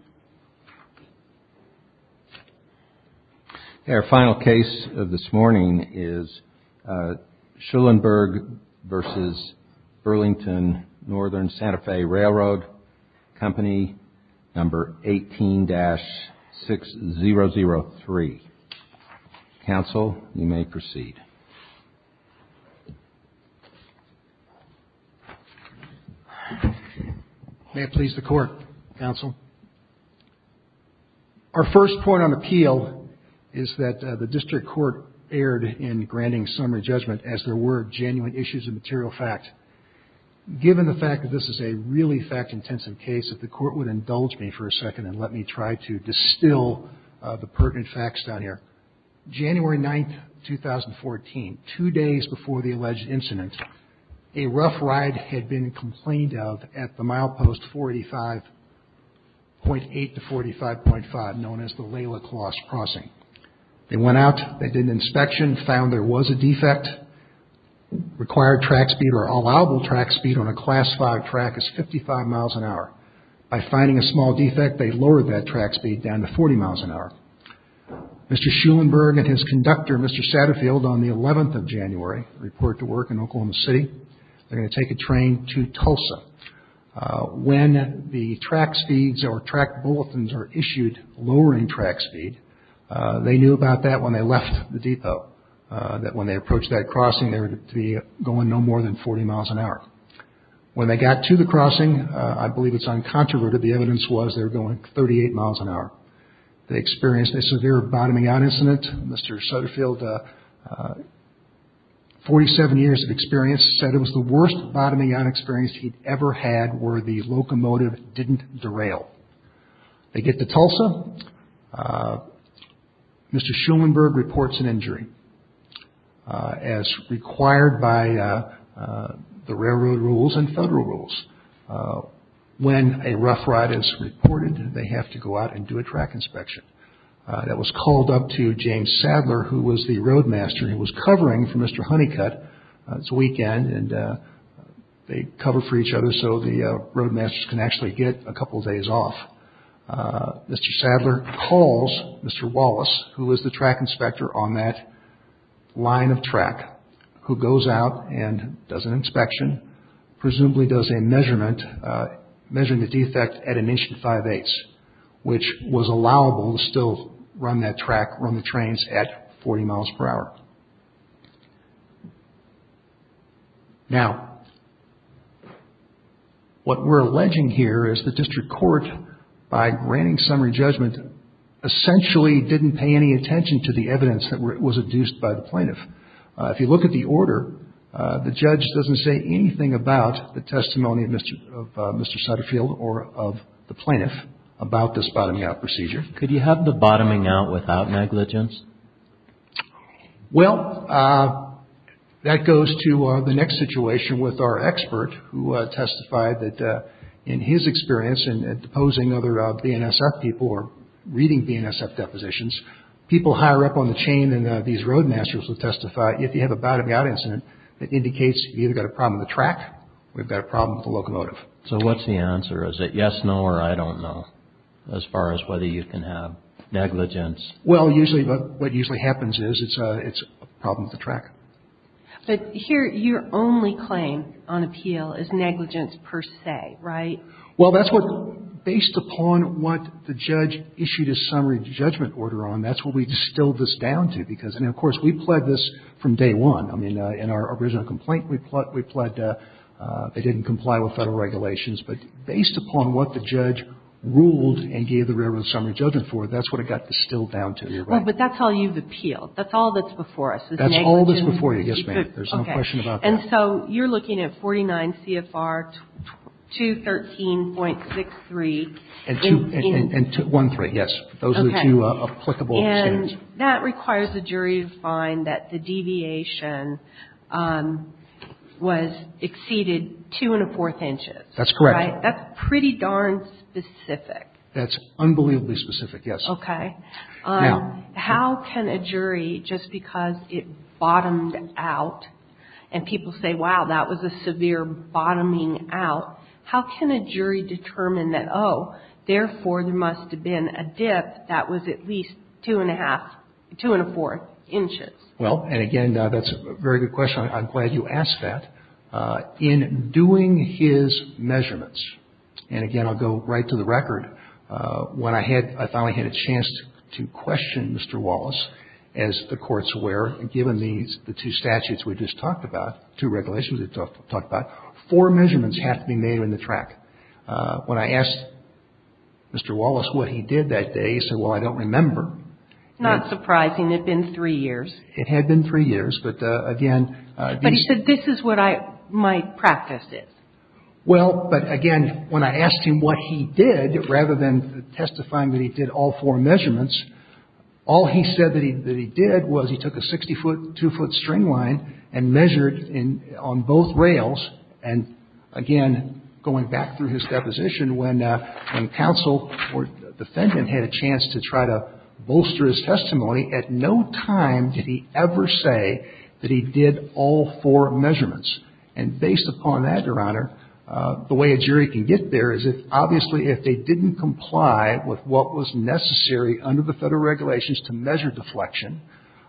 18-6003 May it please the Court, Counsel. Our first point on appeal is that the district court erred in granting summary judgment as there were genuine issues of material fact. Given the fact that this is a really fact-intensive case, if the Court would indulge me for a second and let me try to distill the pertinent facts down here, January 9th, 2014, two days before the alleged incident, a rough ride had been complained of at the milepost 485.8-485.5 known as the Laila Closs Crossing. They went out, they did an inspection, found there was a defect. Required track speed or allowable track speed on a class 5 track is 55 miles an hour. By finding a small defect, they lowered that track speed down to 40 miles an hour. Mr. Schulenberg and his conductor, Mr. Satterfield, on the 11th of January, report to work in Oklahoma City. They're going to take a train to Tulsa. When the track speeds or track bulletins are issued lowering track speed, they knew about that when they left the depot, that when they approached that crossing, I believe it's uncontroverted, the evidence was they were going 38 miles an hour. They experienced a severe bottoming out incident. Mr. Satterfield, 47 years of experience, said it was the worst bottoming out experience he'd ever had where the locomotive didn't derail. They get to Tulsa. Mr. Schulenberg reports an injury as required by the railroad rules and federal rules. When a rough ride is reported, they have to go out and do a track inspection. That was called up to James Sadler, who was the roadmaster. He was covering for Mr. Honeycutt. It's a weekend and they cover for each other so the roadmaster can actually get a couple of days off. Mr. Sadler calls Mr. Wallace, who was the track inspector on that line of track, who goes out and does an inspection, presumably does a measurement, measuring the defect at an inch and five-eighths, which was allowable to still run that track, run the What we're alleging here is the district court, by granting summary judgment, essentially didn't pay any attention to the evidence that was induced by the plaintiff. If you look at the order, the judge doesn't say anything about the testimony of Mr. Satterfield or of the plaintiff about this bottoming out procedure. Could you have the bottoming out without negligence? Well, that goes to the next situation with our expert, who testified that in his experience in deposing other BNSF people or reading BNSF depositions, people higher up on the chain than these roadmasters would testify. If you have a bottoming out incident, that indicates you've either got a problem with the track or you've got a problem with the locomotive. So what's the answer? Is it yes, no, or I don't know, as far as whether you can have negligence? Well, usually what usually happens is it's a problem with the track. But here, your only claim on appeal is negligence per se, right? Well, that's what, based upon what the judge issued a summary judgment order on, that's what we distilled this down to. Because, and of course, we pled this from day one. I mean, in our original complaint, we pled that they didn't comply with Federal regulations. But based upon what the judge ruled and gave the railroad summary judgment for, that's what it got distilled down to here, right? Well, but that's how you've appealed. That's all that's before us is negligence. That's all that's before you, yes, ma'am. There's no question about that. Okay. And so you're looking at 49 CFR 213.63. And two, and one three, yes. Those are the two applicable standards. And that requires the jury to find that the deviation was exceeded two and a fourth inches. That's correct. Right? That's pretty darn specific. That's unbelievably specific, yes. Okay. Yeah. How can a jury, just because it bottomed out, and people say, wow, that was a severe bottoming out, how can a jury determine that, oh, therefore, there must have been a dip that was at least two and a half, two and a fourth inches? Well, and again, that's a very good question. I'm glad you asked that. In doing his measurements, and again, I'll go right to the record. When I had, I finally had a chance to question Mr. Wallace, as the courts were, given these, the two statutes we just talked about, two regulations we talked about, four measurements have to be made on the track. When I asked Mr. Wallace what he did that day, he said, well, I don't remember. Not surprising. It had been three years. It had been three years, but again. But he said, this is what my practice is. Well, but again, when I asked him what he did, rather than testifying that he did all four measurements, all he said that he did was he took a 60-foot, 2-foot string line and measured on both rails. And again, going back through his deposition, when counsel or defendant had a chance to try to bolster his testimony, at no time did he ever say that he did all four measurements. And based upon that, Your Honor, the way a jury can get there is if, obviously, if they didn't comply with what was necessary under the Federal regulations to measure deflection,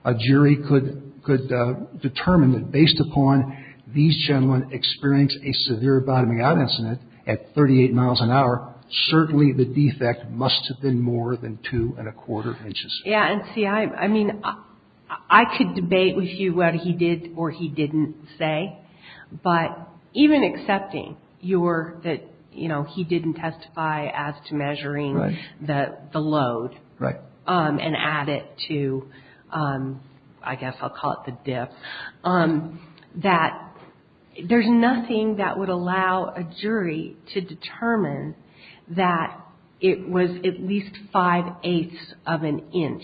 a jury could determine that based upon these gentlemen experience a severe bottoming out incident at 38 miles an hour, certainly the defect must have been more than two and a quarter inches. Yeah. And see, I mean, I could debate with you whether he did or he didn't say, but even accepting your, that, you know, he didn't testify as to measuring the load. Right. And add it to, I guess I'll call it the dip, that there's nothing that would allow a jury to determine that it was at least five-eighths of an inch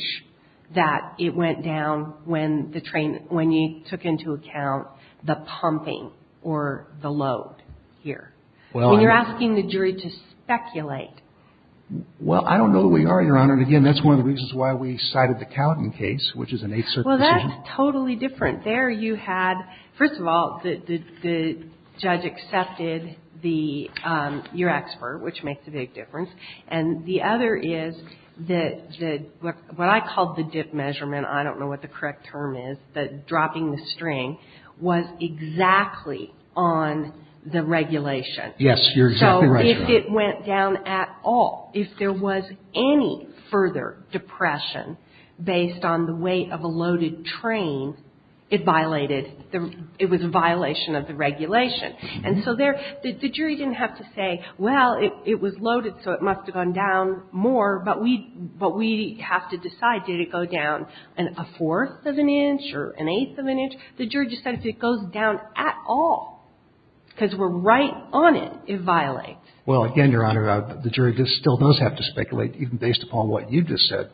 that it went down when the train, when you took into account the pumping or the load here. When you're asking the jury to speculate. Well, I don't know that we are, Your Honor. And again, that's one of the reasons why we cited the Cowden case, which is an eighth-circuit decision. Well, that's totally different. There you had, first of all, the judge accepted the, your expert, which makes a big difference. And the other is the, what I call the dip measurement, I don't know what the correct term is, but dropping the string was exactly on the regulation. Yes, you're exactly right, Your Honor. So if it went down at all, if there was any further depression based on the weight of a loaded train, it violated, it was a violation of the regulation. And so there, the jury didn't have to say, well, it was loaded, so it must have gone down more, but we have to decide, did it go down a fourth of an inch or an eighth of an inch? The jury decided if it goes down at all, because we're right on it, it violates. Well, again, Your Honor, the jury still does have to speculate, even based upon what you just said.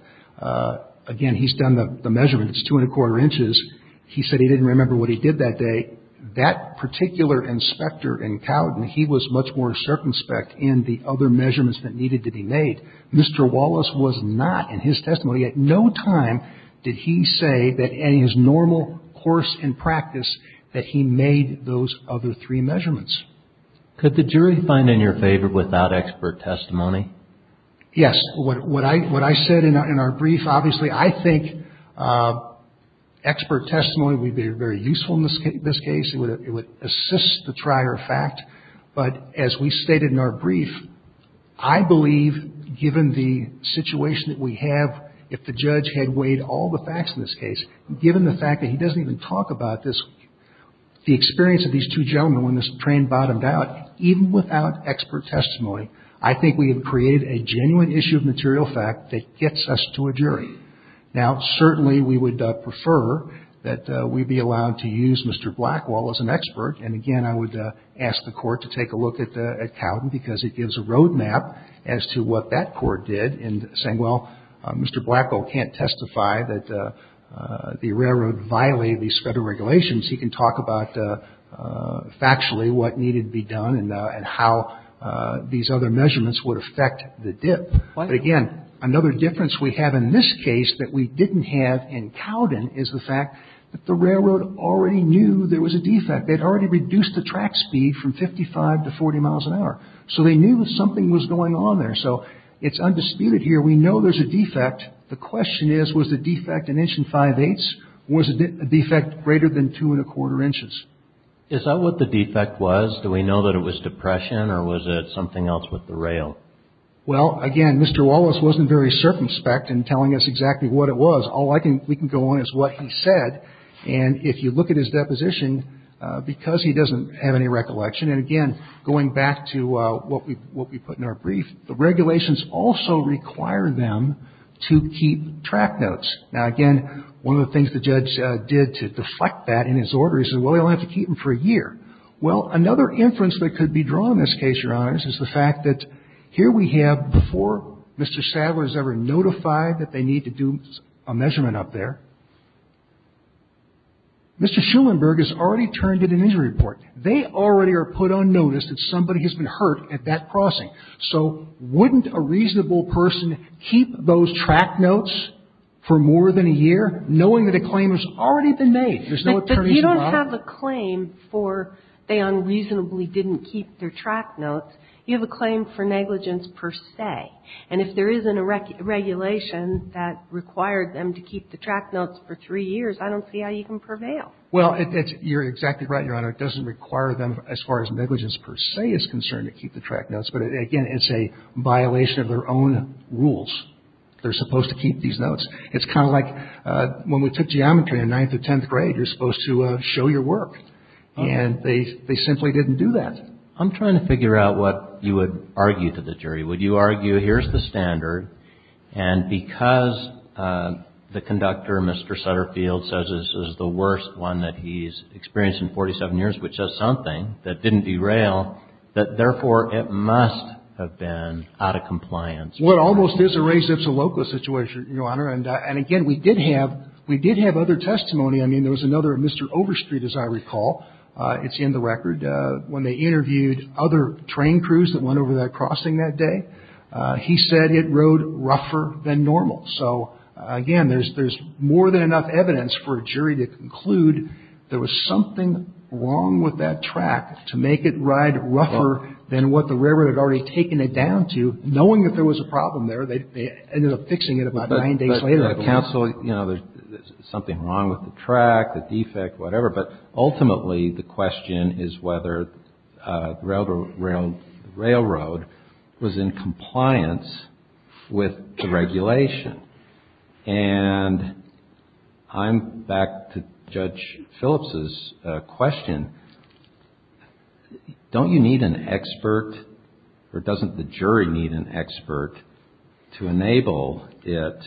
Again, he's done the measurement. It's two and a quarter inches. He said he didn't remember what he did that day. That particular inspector in Cowden, he was much more circumspect in the other measurements that needed to be made. Mr. Wallace was not in his testimony. At no time did he say that in his normal course and practice that he made those other three measurements. Could the jury find in your favor without expert testimony? Yes. What I said in our brief, obviously, I think expert testimony would be very useful in this case. It would assist the trier of fact. But as we stated in our brief, I believe, given the situation that we have, if the judge had weighed all the facts in this case, given the fact that he doesn't even talk about this, the experience of these two gentlemen when this train bottomed out, even without expert testimony, I think we have created a genuine issue of material fact that gets us to a jury. Now, certainly we would prefer that we be allowed to use Mr. Blackwell as an expert. And, again, I would ask the Court to take a look at Cowden because it gives a road map as to what that Court did in saying, well, Mr. Blackwell can't testify that the railroad violated these federal regulations. He can talk about factually what needed to be done and how these other measurements would affect the dip. But, again, another difference we have in this case that we didn't have in Cowden is the fact that the railroad already knew there was a defect. They had already reduced the track speed from 55 to 40 miles an hour. So they knew that something was going on there. So it's undisputed here. We know there's a defect. The question is, was the defect an inch and five-eighths or was the defect greater than two and a quarter inches? Is that what the defect was? Do we know that it was depression or was it something else with the rail? Well, again, Mr. Wallace wasn't very circumspect in telling us exactly what it was. All we can go on is what he said. And if you look at his deposition, because he doesn't have any recollection, and, again, going back to what we put in our brief, the regulations also require them to keep track notes. Now, again, one of the things the judge did to deflect that in his order, he said, well, you'll have to keep them for a year. Well, another inference that could be drawn in this case, Your Honors, is the fact that here we have before Mr. Sadler is ever notified that they need to do a measurement up there, Mr. Schulenburg has already turned in an injury report. They already are put on notice that somebody has been hurt at that crossing. So wouldn't a reasonable person keep those track notes for more than a year, knowing that a claim has already been made? There's no attorneys involved. But you don't have a claim for they unreasonably didn't keep their track notes. You have a claim for negligence per se. And if there isn't a regulation that required them to keep the track notes for three years, I don't see how you can prevail. Well, you're exactly right, Your Honor. It doesn't require them, as far as negligence per se is concerned, to keep the track notes. But, again, it's a violation of their own rules. They're supposed to keep these notes. It's kind of like when we took geometry in ninth or tenth grade. You're supposed to show your work. And they simply didn't do that. I'm trying to figure out what you would argue to the jury. Would you argue, here's the standard. And because the conductor, Mr. Sutterfield, says this is the worst one that he's experienced in 47 years, which is something that didn't derail, that, therefore, it must have been out of compliance. Well, it almost is a race if it's a local situation, Your Honor. And, again, we did have other testimony. I mean, there was another, Mr. Overstreet, as I recall, it's in the record, when they interviewed other train crews that went over that crossing that day. He said it rode rougher than normal. So, again, there's more than enough evidence for a jury to conclude there was something wrong with that track to make it ride rougher than what the railroad had already taken it down to, knowing that there was a problem there. They ended up fixing it about nine days later. But, counsel, you know, there's something wrong with the track, the defect, whatever. But, ultimately, the question is whether the railroad was in compliance with the regulation. And I'm back to Judge Phillips's question. Don't you need an expert or doesn't the jury need an expert to enable it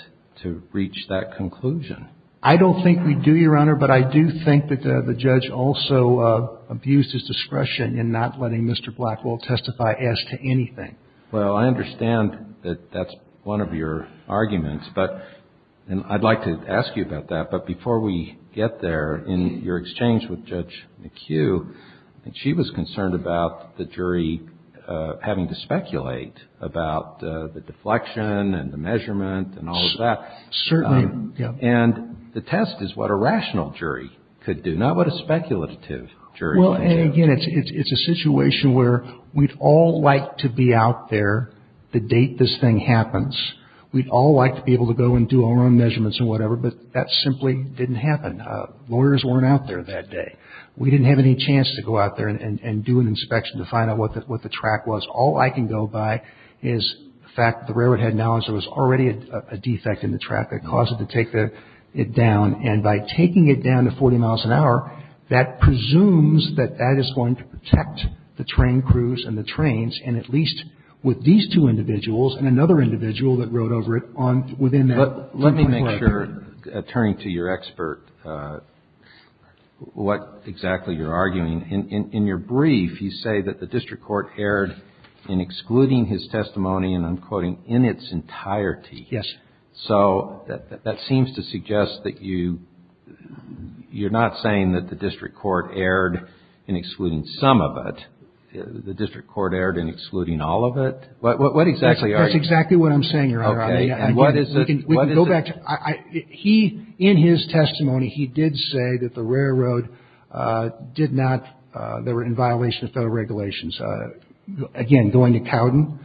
to reach that conclusion? I don't think we do, Your Honor. But I do think that the judge also abused his discretion in not letting Mr. Blackwell testify as to anything. Well, I understand that that's one of your arguments. And I'd like to ask you about that. But before we get there, in your exchange with Judge McHugh, she was concerned about the jury having to speculate about the deflection and the measurement and all of that. Certainly. And the test is what a rational jury could do, not what a speculative jury can do. Well, and again, it's a situation where we'd all like to be out there the date this thing happens. We'd all like to be able to go and do our own measurements and whatever, but that simply didn't happen. Lawyers weren't out there that day. We didn't have any chance to go out there and do an inspection to find out what the track was. All I can go by is the fact that the railroad had knowledge there was already a defect in the track that caused it to take it down. And by taking it down to 40 miles an hour, that presumes that that is going to protect the train crews and the trains, and at least with these two individuals and another individual that rode over it within that 24-hour period. Let me make sure, turning to your expert, what exactly you're arguing. In your brief, you say that the district court erred in excluding his testimony, and I'm quoting, in its entirety. Yes. So that seems to suggest that you're not saying that the district court erred in excluding some of it. The district court erred in excluding all of it? What exactly are you saying? That's exactly what I'm saying, Your Honor. Okay. And what is it? In his testimony, he did say that the railroad did not, they were in violation of federal regulations. Again, going to Cowden,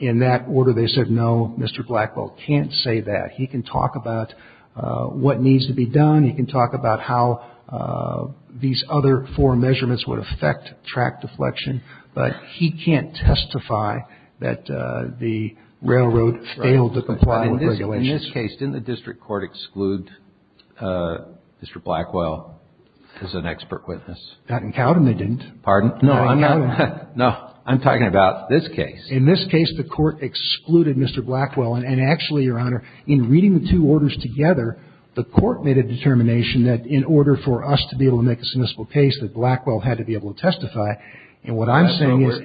in that order, they said, no, Mr. Blackwell can't say that. He can talk about what needs to be done. He can talk about how these other four measurements would affect track deflection, but he can't testify that the railroad failed to comply with regulations. In this case, didn't the district court exclude Mr. Blackwell as an expert witness? Not in Cowden, they didn't. Pardon? Not in Cowden. No. I'm talking about this case. In this case, the court excluded Mr. Blackwell, and actually, Your Honor, in reading the two orders together, the court made a determination that in order for us to be able to make a submissible case, that Blackwell had to be able to testify, and what I'm saying is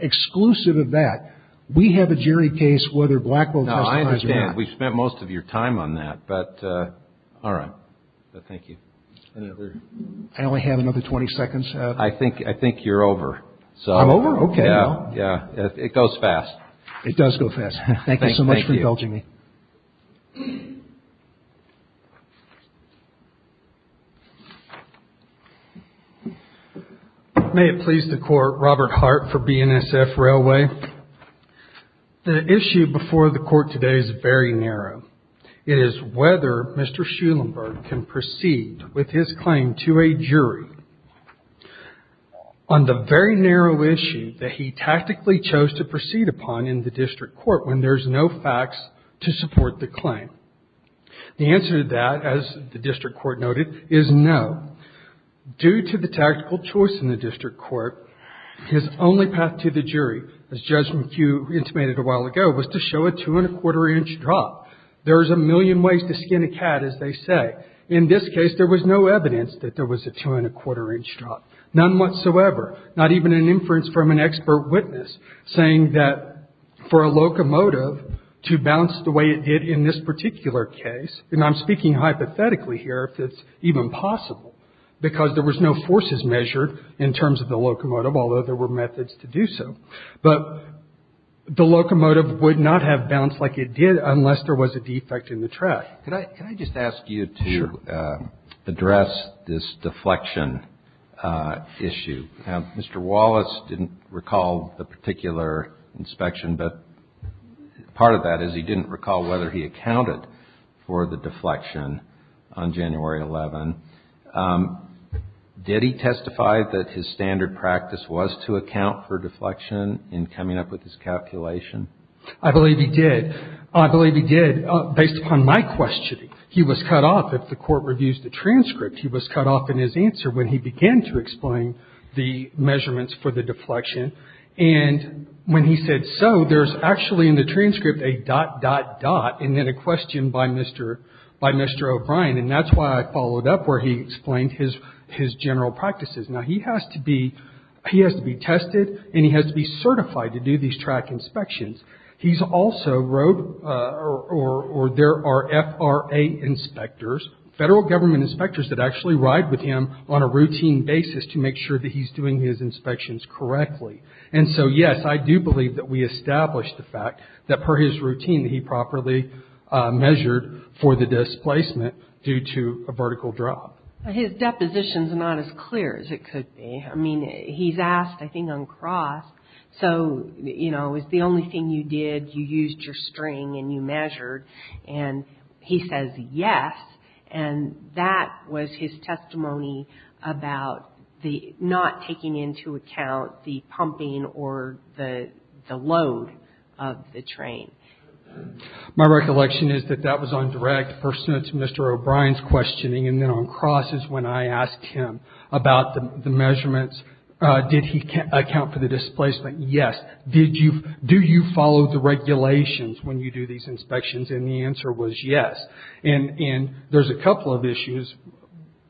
exclusive of that, we have a jury case whether Blackwell testified or not. No, I understand. We've spent most of your time on that, but all right. Thank you. I only have another 20 seconds. I think you're over. I'm over? Okay. Yeah. It goes fast. It does go fast. Thank you so much for indulging me. Thank you. May it please the Court, Robert Hart for BNSF Railway. The issue before the Court today is very narrow. It is whether Mr. Schulenberg can proceed with his claim to a jury on the very narrow issue that he tactically chose to proceed upon in the district court when there's no facts to support the claim. The answer to that, as the district court noted, is no. Due to the tactical choice in the district court, his only path to the jury, as Judge McHugh intimated a while ago, was to show a two-and-a-quarter-inch drop. There's a million ways to skin a cat, as they say. In this case, there was no evidence that there was a two-and-a-quarter-inch drop, none whatsoever, not even an inference from an expert witness saying that for a locomotive to bounce the way it did in this particular case, and I'm speaking hypothetically here if it's even possible, because there was no forces measured in terms of the locomotive, although there were methods to do so. But the locomotive would not have bounced like it did unless there was a defect in the track. Could I just ask you to address this deflection issue? Mr. Wallace didn't recall the particular inspection, but part of that is he didn't recall whether he accounted for the deflection on January 11. Did he testify that his standard practice was to account for deflection in coming up with this calculation? I believe he did. Based upon my questioning, he was cut off. If the court reviews the transcript, he was cut off in his answer when he began to explain the measurements for the deflection. And when he said so, there's actually in the transcript a dot, dot, dot, and then a question by Mr. O'Brien, and that's why I followed up where he explained his general practices. Now, he has to be tested, and he has to be certified to do these track inspections. He's also rode or there are FRA inspectors, federal government inspectors that actually ride with him on a routine basis to make sure that he's doing his inspections correctly. And so, yes, I do believe that we established the fact that per his routine, he properly measured for the displacement due to a vertical drop. His depositions are not as clear as it could be. I mean, he's asked, I think, uncrossed. So, you know, it's the only thing you did. You used your string and you measured. And he says yes, and that was his testimony about the not taking into account the pumping or the load of the train. My recollection is that that was on direct. First, it's Mr. O'Brien's questioning, and then uncross is when I asked him about the measurements. Did he account for the displacement? Yes. Do you follow the regulations when you do these inspections? And the answer was yes. And there's a couple of issues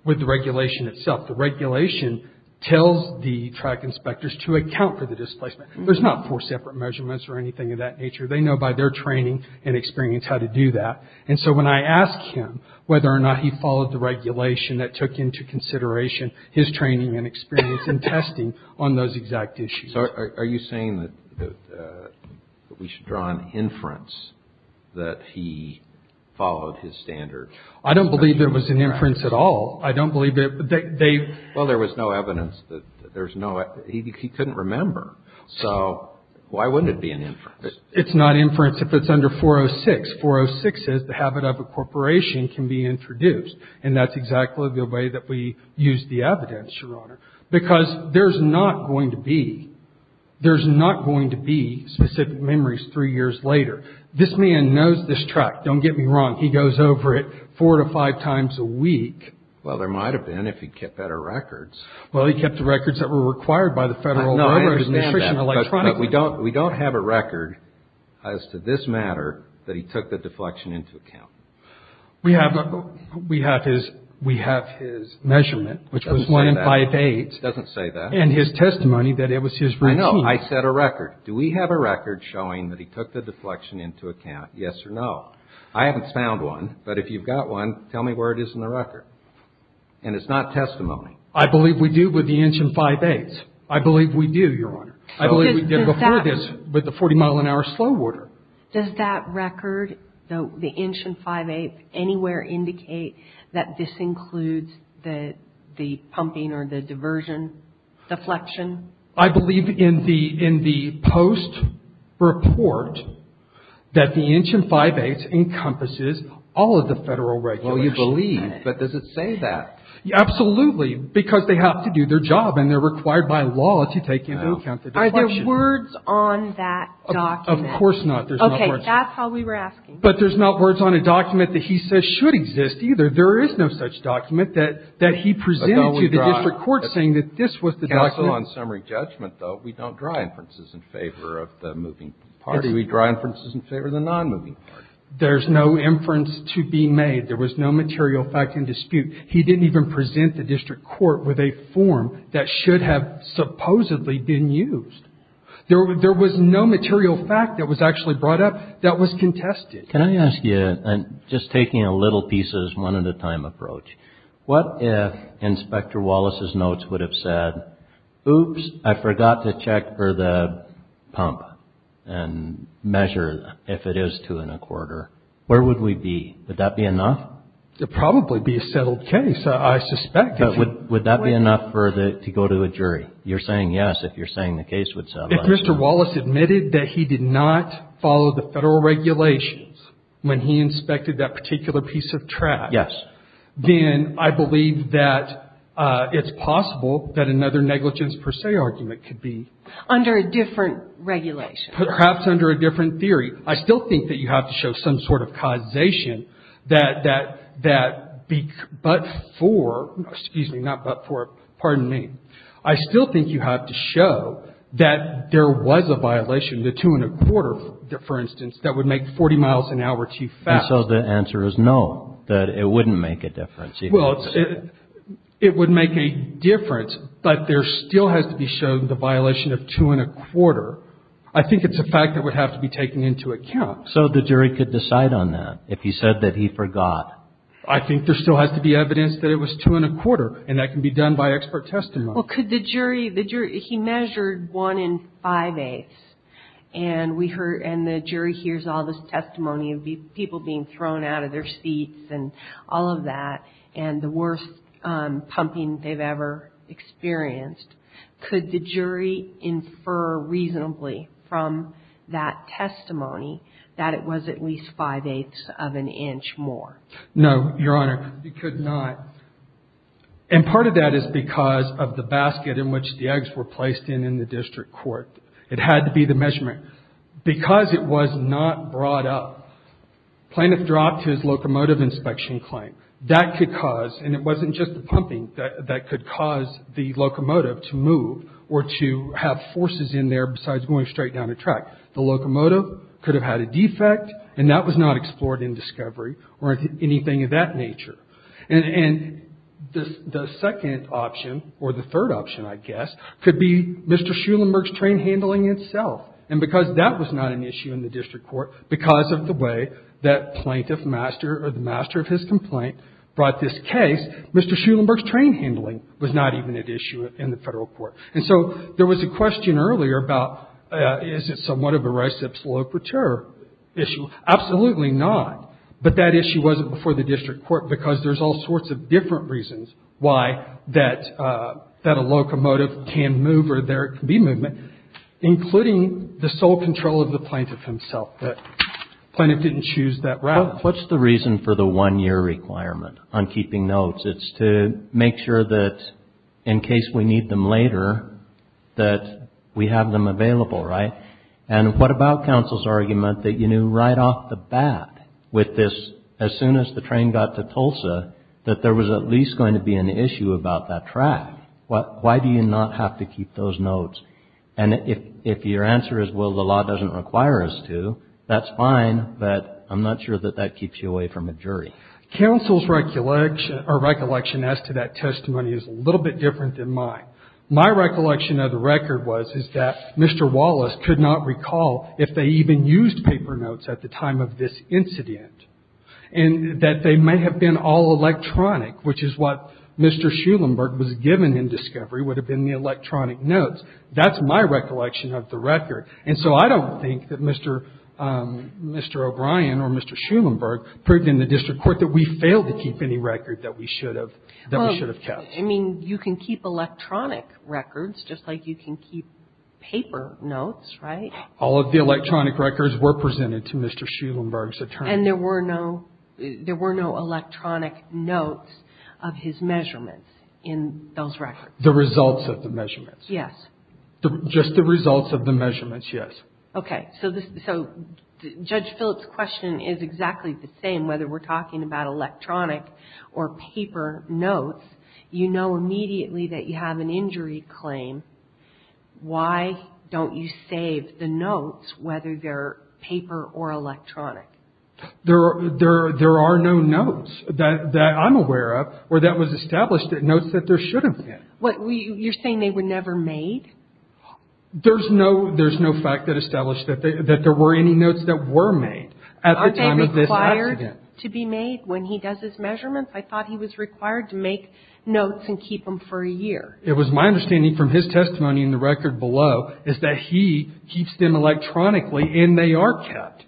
with the regulation itself. The regulation tells the track inspectors to account for the displacement. There's not four separate measurements or anything of that nature. They know by their training and experience how to do that. And so when I asked him whether or not he followed the regulation that took into consideration his training and experience and testing on those exact issues. So are you saying that we should draw an inference that he followed his standard? I don't believe there was an inference at all. I don't believe that they – Well, there was no evidence that there's no – he couldn't remember. So why wouldn't it be an inference? It's not inference if it's under 406. 406 is the habit of a corporation can be introduced. And that's exactly the way that we use the evidence, Your Honor. Because there's not going to be – there's not going to be specific memories three years later. This man knows this track. Don't get me wrong. He goes over it four to five times a week. Well, there might have been if he kept better records. Well, he kept the records that were required by the Federal Registration Electronics Commission. But we don't have a record as to this matter that he took the deflection into account. We have his measurement, which was one and five-eighths. It doesn't say that. And his testimony that it was his routine. I know. I set a record. Do we have a record showing that he took the deflection into account, yes or no? I haven't found one. But if you've got one, tell me where it is in the record. And it's not testimony. I believe we do with the inch and five-eighths. I believe we do, Your Honor. I believe we did before this with the 40-mile-an-hour slow order. Does that record, the inch and five-eighths, anywhere indicate that this includes the pumping or the diversion deflection? I believe in the post-report that the inch and five-eighths encompasses all of the Federal regulations. Well, you believe, but does it say that? Absolutely. Because they have to do their job, and they're required by law to take into account the deflection. Are there words on that document? Of course not. Okay. That's how we were asking. But there's not words on a document that he says should exist, either. There is no such document that he presented to the district court saying that this was the document. Also, on summary judgment, though, we don't draw inferences in favor of the moving party. We draw inferences in favor of the non-moving party. There's no inference to be made. There was no material fact in dispute. He didn't even present the district court with a form that should have supposedly been used. There was no material fact that was actually brought up that was contested. Can I ask you, just taking a little pieces, one-at-a-time approach, what if Inspector Wallace's notes would have said, oops, I forgot to check for the pump and measure if it is two-and-a-quarter? Where would we be? Would that be enough? It would probably be a settled case, I suspect. But would that be enough to go to a jury? You're saying yes if you're saying the case would settle. If Mr. Wallace admitted that he did not follow the Federal regulations when he inspected that particular piece of track. Yes. Then I believe that it's possible that another negligence per se argument could be. Under a different regulation. Perhaps under a different theory. I still think that you have to show some sort of causation that but for, excuse me, not but for, pardon me. I still think you have to show that there was a violation, the two-and-a-quarter, for instance, that would make 40 miles an hour too fast. And so the answer is no, that it wouldn't make a difference. Well, it would make a difference, but there still has to be shown the violation of two-and-a-quarter. I think it's a fact that would have to be taken into account. So the jury could decide on that if he said that he forgot. I think there still has to be evidence that it was two-and-a-quarter, and that can be done by expert testimony. Well, could the jury, the jury, he measured one-and-five-eighths. And we heard, and the jury hears all this testimony of people being thrown out of their seats and all of that, and the worst pumping they've ever experienced. Could the jury infer reasonably from that testimony that it was at least five-eighths of an inch more? No, Your Honor. It could not. And part of that is because of the basket in which the eggs were placed in in the district court. It had to be the measurement. Because it was not brought up, Plaintiff dropped his locomotive inspection claim. That could cause, and it wasn't just the pumping that could cause the locomotive to move or to have forces in there besides going straight down a track. The locomotive could have had a defect, and that was not explored in discovery or anything of that nature. And the second option, or the third option, I guess, could be Mr. Schulenburg's train handling itself. And because that was not an issue in the district court, because of the way that Plaintiff Master or the Master of his complaint brought this case, Mr. Schulenburg's train handling was not even at issue in the federal court. And so there was a question earlier about is it somewhat of a reciprocity issue? Absolutely not. But that issue wasn't before the district court because there's all sorts of different reasons why that a locomotive can move or there can be movement, including the sole control of the plaintiff himself. But Plaintiff didn't choose that route. What's the reason for the one-year requirement on keeping notes? It's to make sure that in case we need them later that we have them available, right? And what about counsel's argument that you knew right off the bat with this, as soon as the train got to Tulsa, that there was at least going to be an issue about that track? Why do you not have to keep those notes? And if your answer is, well, the law doesn't require us to, that's fine, but I'm not sure that that keeps you away from a jury. Counsel's recollection as to that testimony is a little bit different than mine. My recollection of the record was is that Mr. Wallace could not recall if they even used paper notes at the time of this incident, and that they may have been all electronic, which is what Mr. Schulenburg was given in discovery would have been the electronic notes. That's my recollection of the record. And so I don't think that Mr. O'Brien or Mr. Schulenburg proved in the district court that we failed to keep any record that we should have kept. I mean, you can keep electronic records just like you can keep paper notes, right? All of the electronic records were presented to Mr. Schulenburg's attorney. And there were no electronic notes of his measurements in those records? The results of the measurements. Yes. Just the results of the measurements, yes. Okay. So Judge Phillips' question is exactly the same. Whether we're talking about electronic or paper notes, you know immediately that you have an injury claim. Why don't you save the notes, whether they're paper or electronic? There are no notes that I'm aware of where that was established, notes that there shouldn't have been. You're saying they were never made? There's no fact that established that there were any notes that were made at the time of this accident. Aren't they required to be made when he does his measurements? I thought he was required to make notes and keep them for a year. It was my understanding from his testimony in the record below is that he keeps them electronically and they are kept.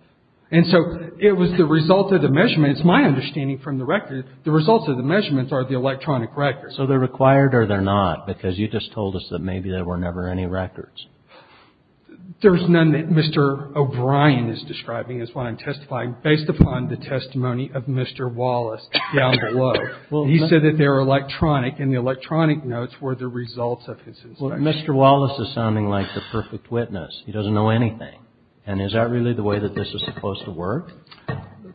And so it was the result of the measurements, my understanding from the record, the results of the measurements are the electronic records. So they're required or they're not because you just told us that maybe there were never any records. There's none that Mr. O'Brien is describing is what I'm testifying based upon the testimony of Mr. Wallace down below. He said that they were electronic and the electronic notes were the results of his inspection. Well, Mr. Wallace is sounding like the perfect witness. He doesn't know anything. And is that really the way that this is supposed to work?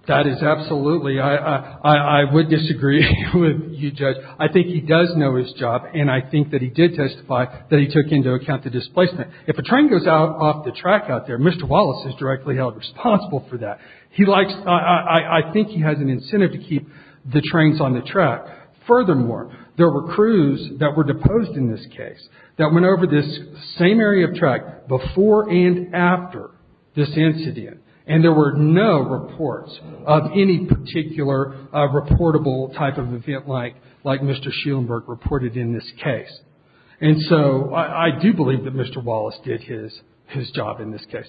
That is absolutely. I would disagree with you, Judge. I think he does know his job and I think that he did testify that he took into account the displacement. If a train goes off the track out there, Mr. Wallace is directly held responsible for that. I think he has an incentive to keep the trains on the track. Furthermore, there were crews that were deposed in this case that went over this same area of track before and after this incident. And there were no reports of any particular reportable type of event like Mr. Schulenburg reported in this case. And so I do believe that Mr. Wallace did his job in this case.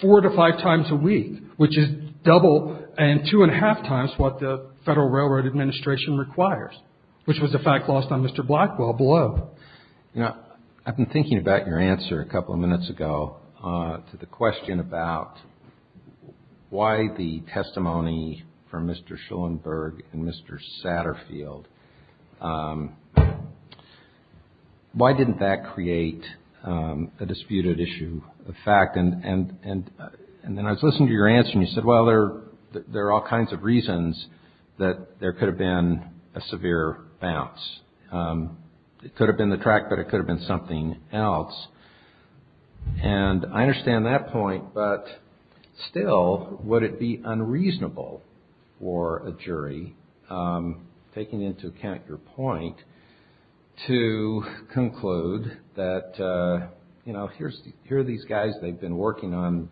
Four to five times a week, which is double and two and a half times what the Federal Railroad Administration requires, which was the fact lost on Mr. Blackwell below. I've been thinking about your answer a couple of minutes ago to the question about why the testimony from Mr. Schulenburg and Mr. Satterfield, why didn't that create a disputed issue of fact? And then I was listening to your answer and you said, well, there are all kinds of reasons that there could have been a severe bounce. It could have been the track, but it could have been something else. And I understand that point, but still, would it be unreasonable for a jury, taking into account your point, to conclude that, you know, here are these guys, they've been working on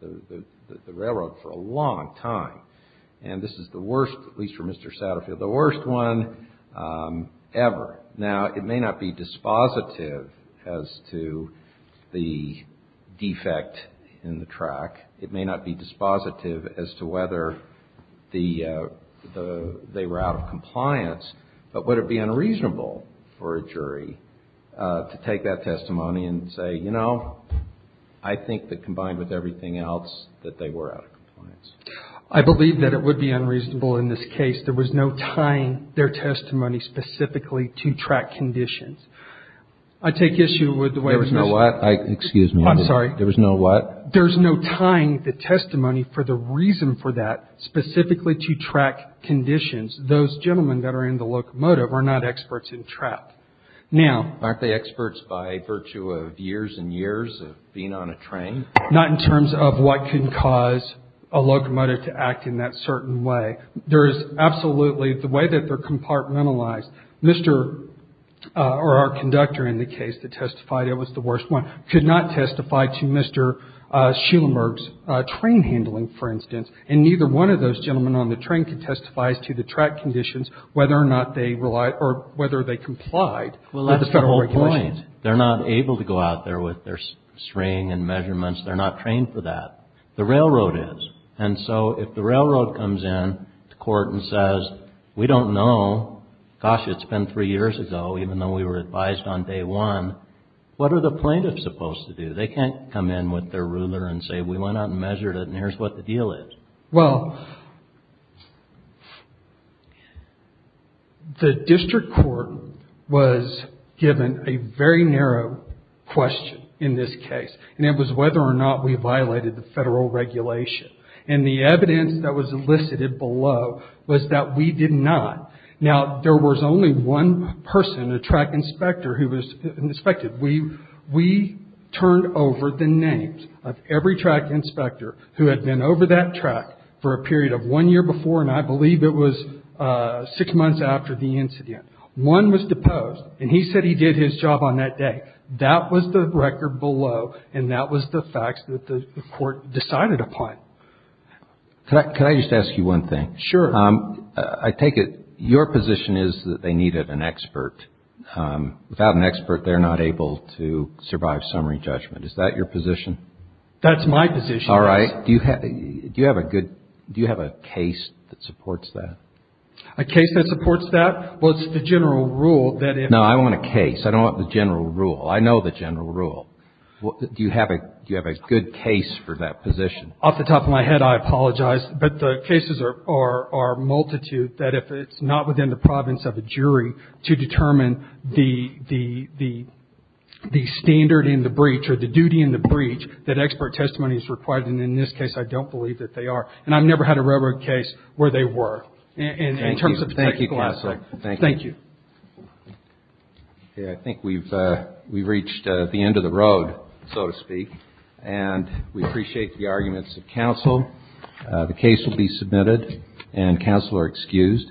the railroad for a long time. And this is the worst, at least for Mr. Satterfield, the worst one ever. Now, it may not be dispositive as to the defect in the track. It may not be dispositive as to whether they were out of compliance. But would it be unreasonable for a jury to take that testimony and say, you know, I think that combined with everything else, that they were out of compliance? I believe that it would be unreasonable in this case. There was no tying their testimony specifically to track conditions. I take issue with the way there was no what. Excuse me. I'm sorry. There was no what? There's no tying the testimony for the reason for that, specifically to track conditions. Those gentlemen that are in the locomotive are not experts in trap. Now. Aren't they experts by virtue of years and years of being on a train? Not in terms of what can cause a locomotive to act in that certain way. There is absolutely the way that they're compartmentalized. Mr. or our conductor in the case that testified it was the worst one could not testify to Mr. Schielemerg's train handling, for instance. And neither one of those gentlemen on the train can testify to the track conditions, whether or not they relied or whether they complied. Well, that's the whole point. They're not able to go out there with their string and measurements. They're not trained for that. The railroad is. And so if the railroad comes in court and says, we don't know. Gosh, it's been three years ago, even though we were advised on day one. What are the plaintiffs supposed to do? They can't come in with their ruler and say, we went out and measured it. And here's what the deal is. Well. The district court was given a very narrow question in this case, and it was whether or not we violated the federal regulation. And the evidence that was elicited below was that we did not. Now, there was only one person, a track inspector, who was inspected. We turned over the names of every track inspector who had been over that track for a period of one year before, and I believe it was six months after the incident. One was deposed, and he said he did his job on that day. That was the record below, and that was the facts that the court decided upon. Can I just ask you one thing? Sure. I take it your position is that they needed an expert. Without an expert, they're not able to survive summary judgment. Is that your position? That's my position, yes. All right. Do you have a good – do you have a case that supports that? A case that supports that? Well, it's the general rule that if – No, I want a case. I don't want the general rule. I know the general rule. Do you have a – do you have a good case for that position? Off the top of my head, I apologize. But the cases are multitude that if it's not within the province of a jury to determine the standard in the breach or the duty in the breach, that expert testimony is required, and in this case, I don't believe that they are. And I've never had a railroad case where they were in terms of the technical aspect. Thank you. Thank you. I think we've reached the end of the road, so to speak, and we appreciate the arguments of counsel. The case will be submitted, and counsel are excused.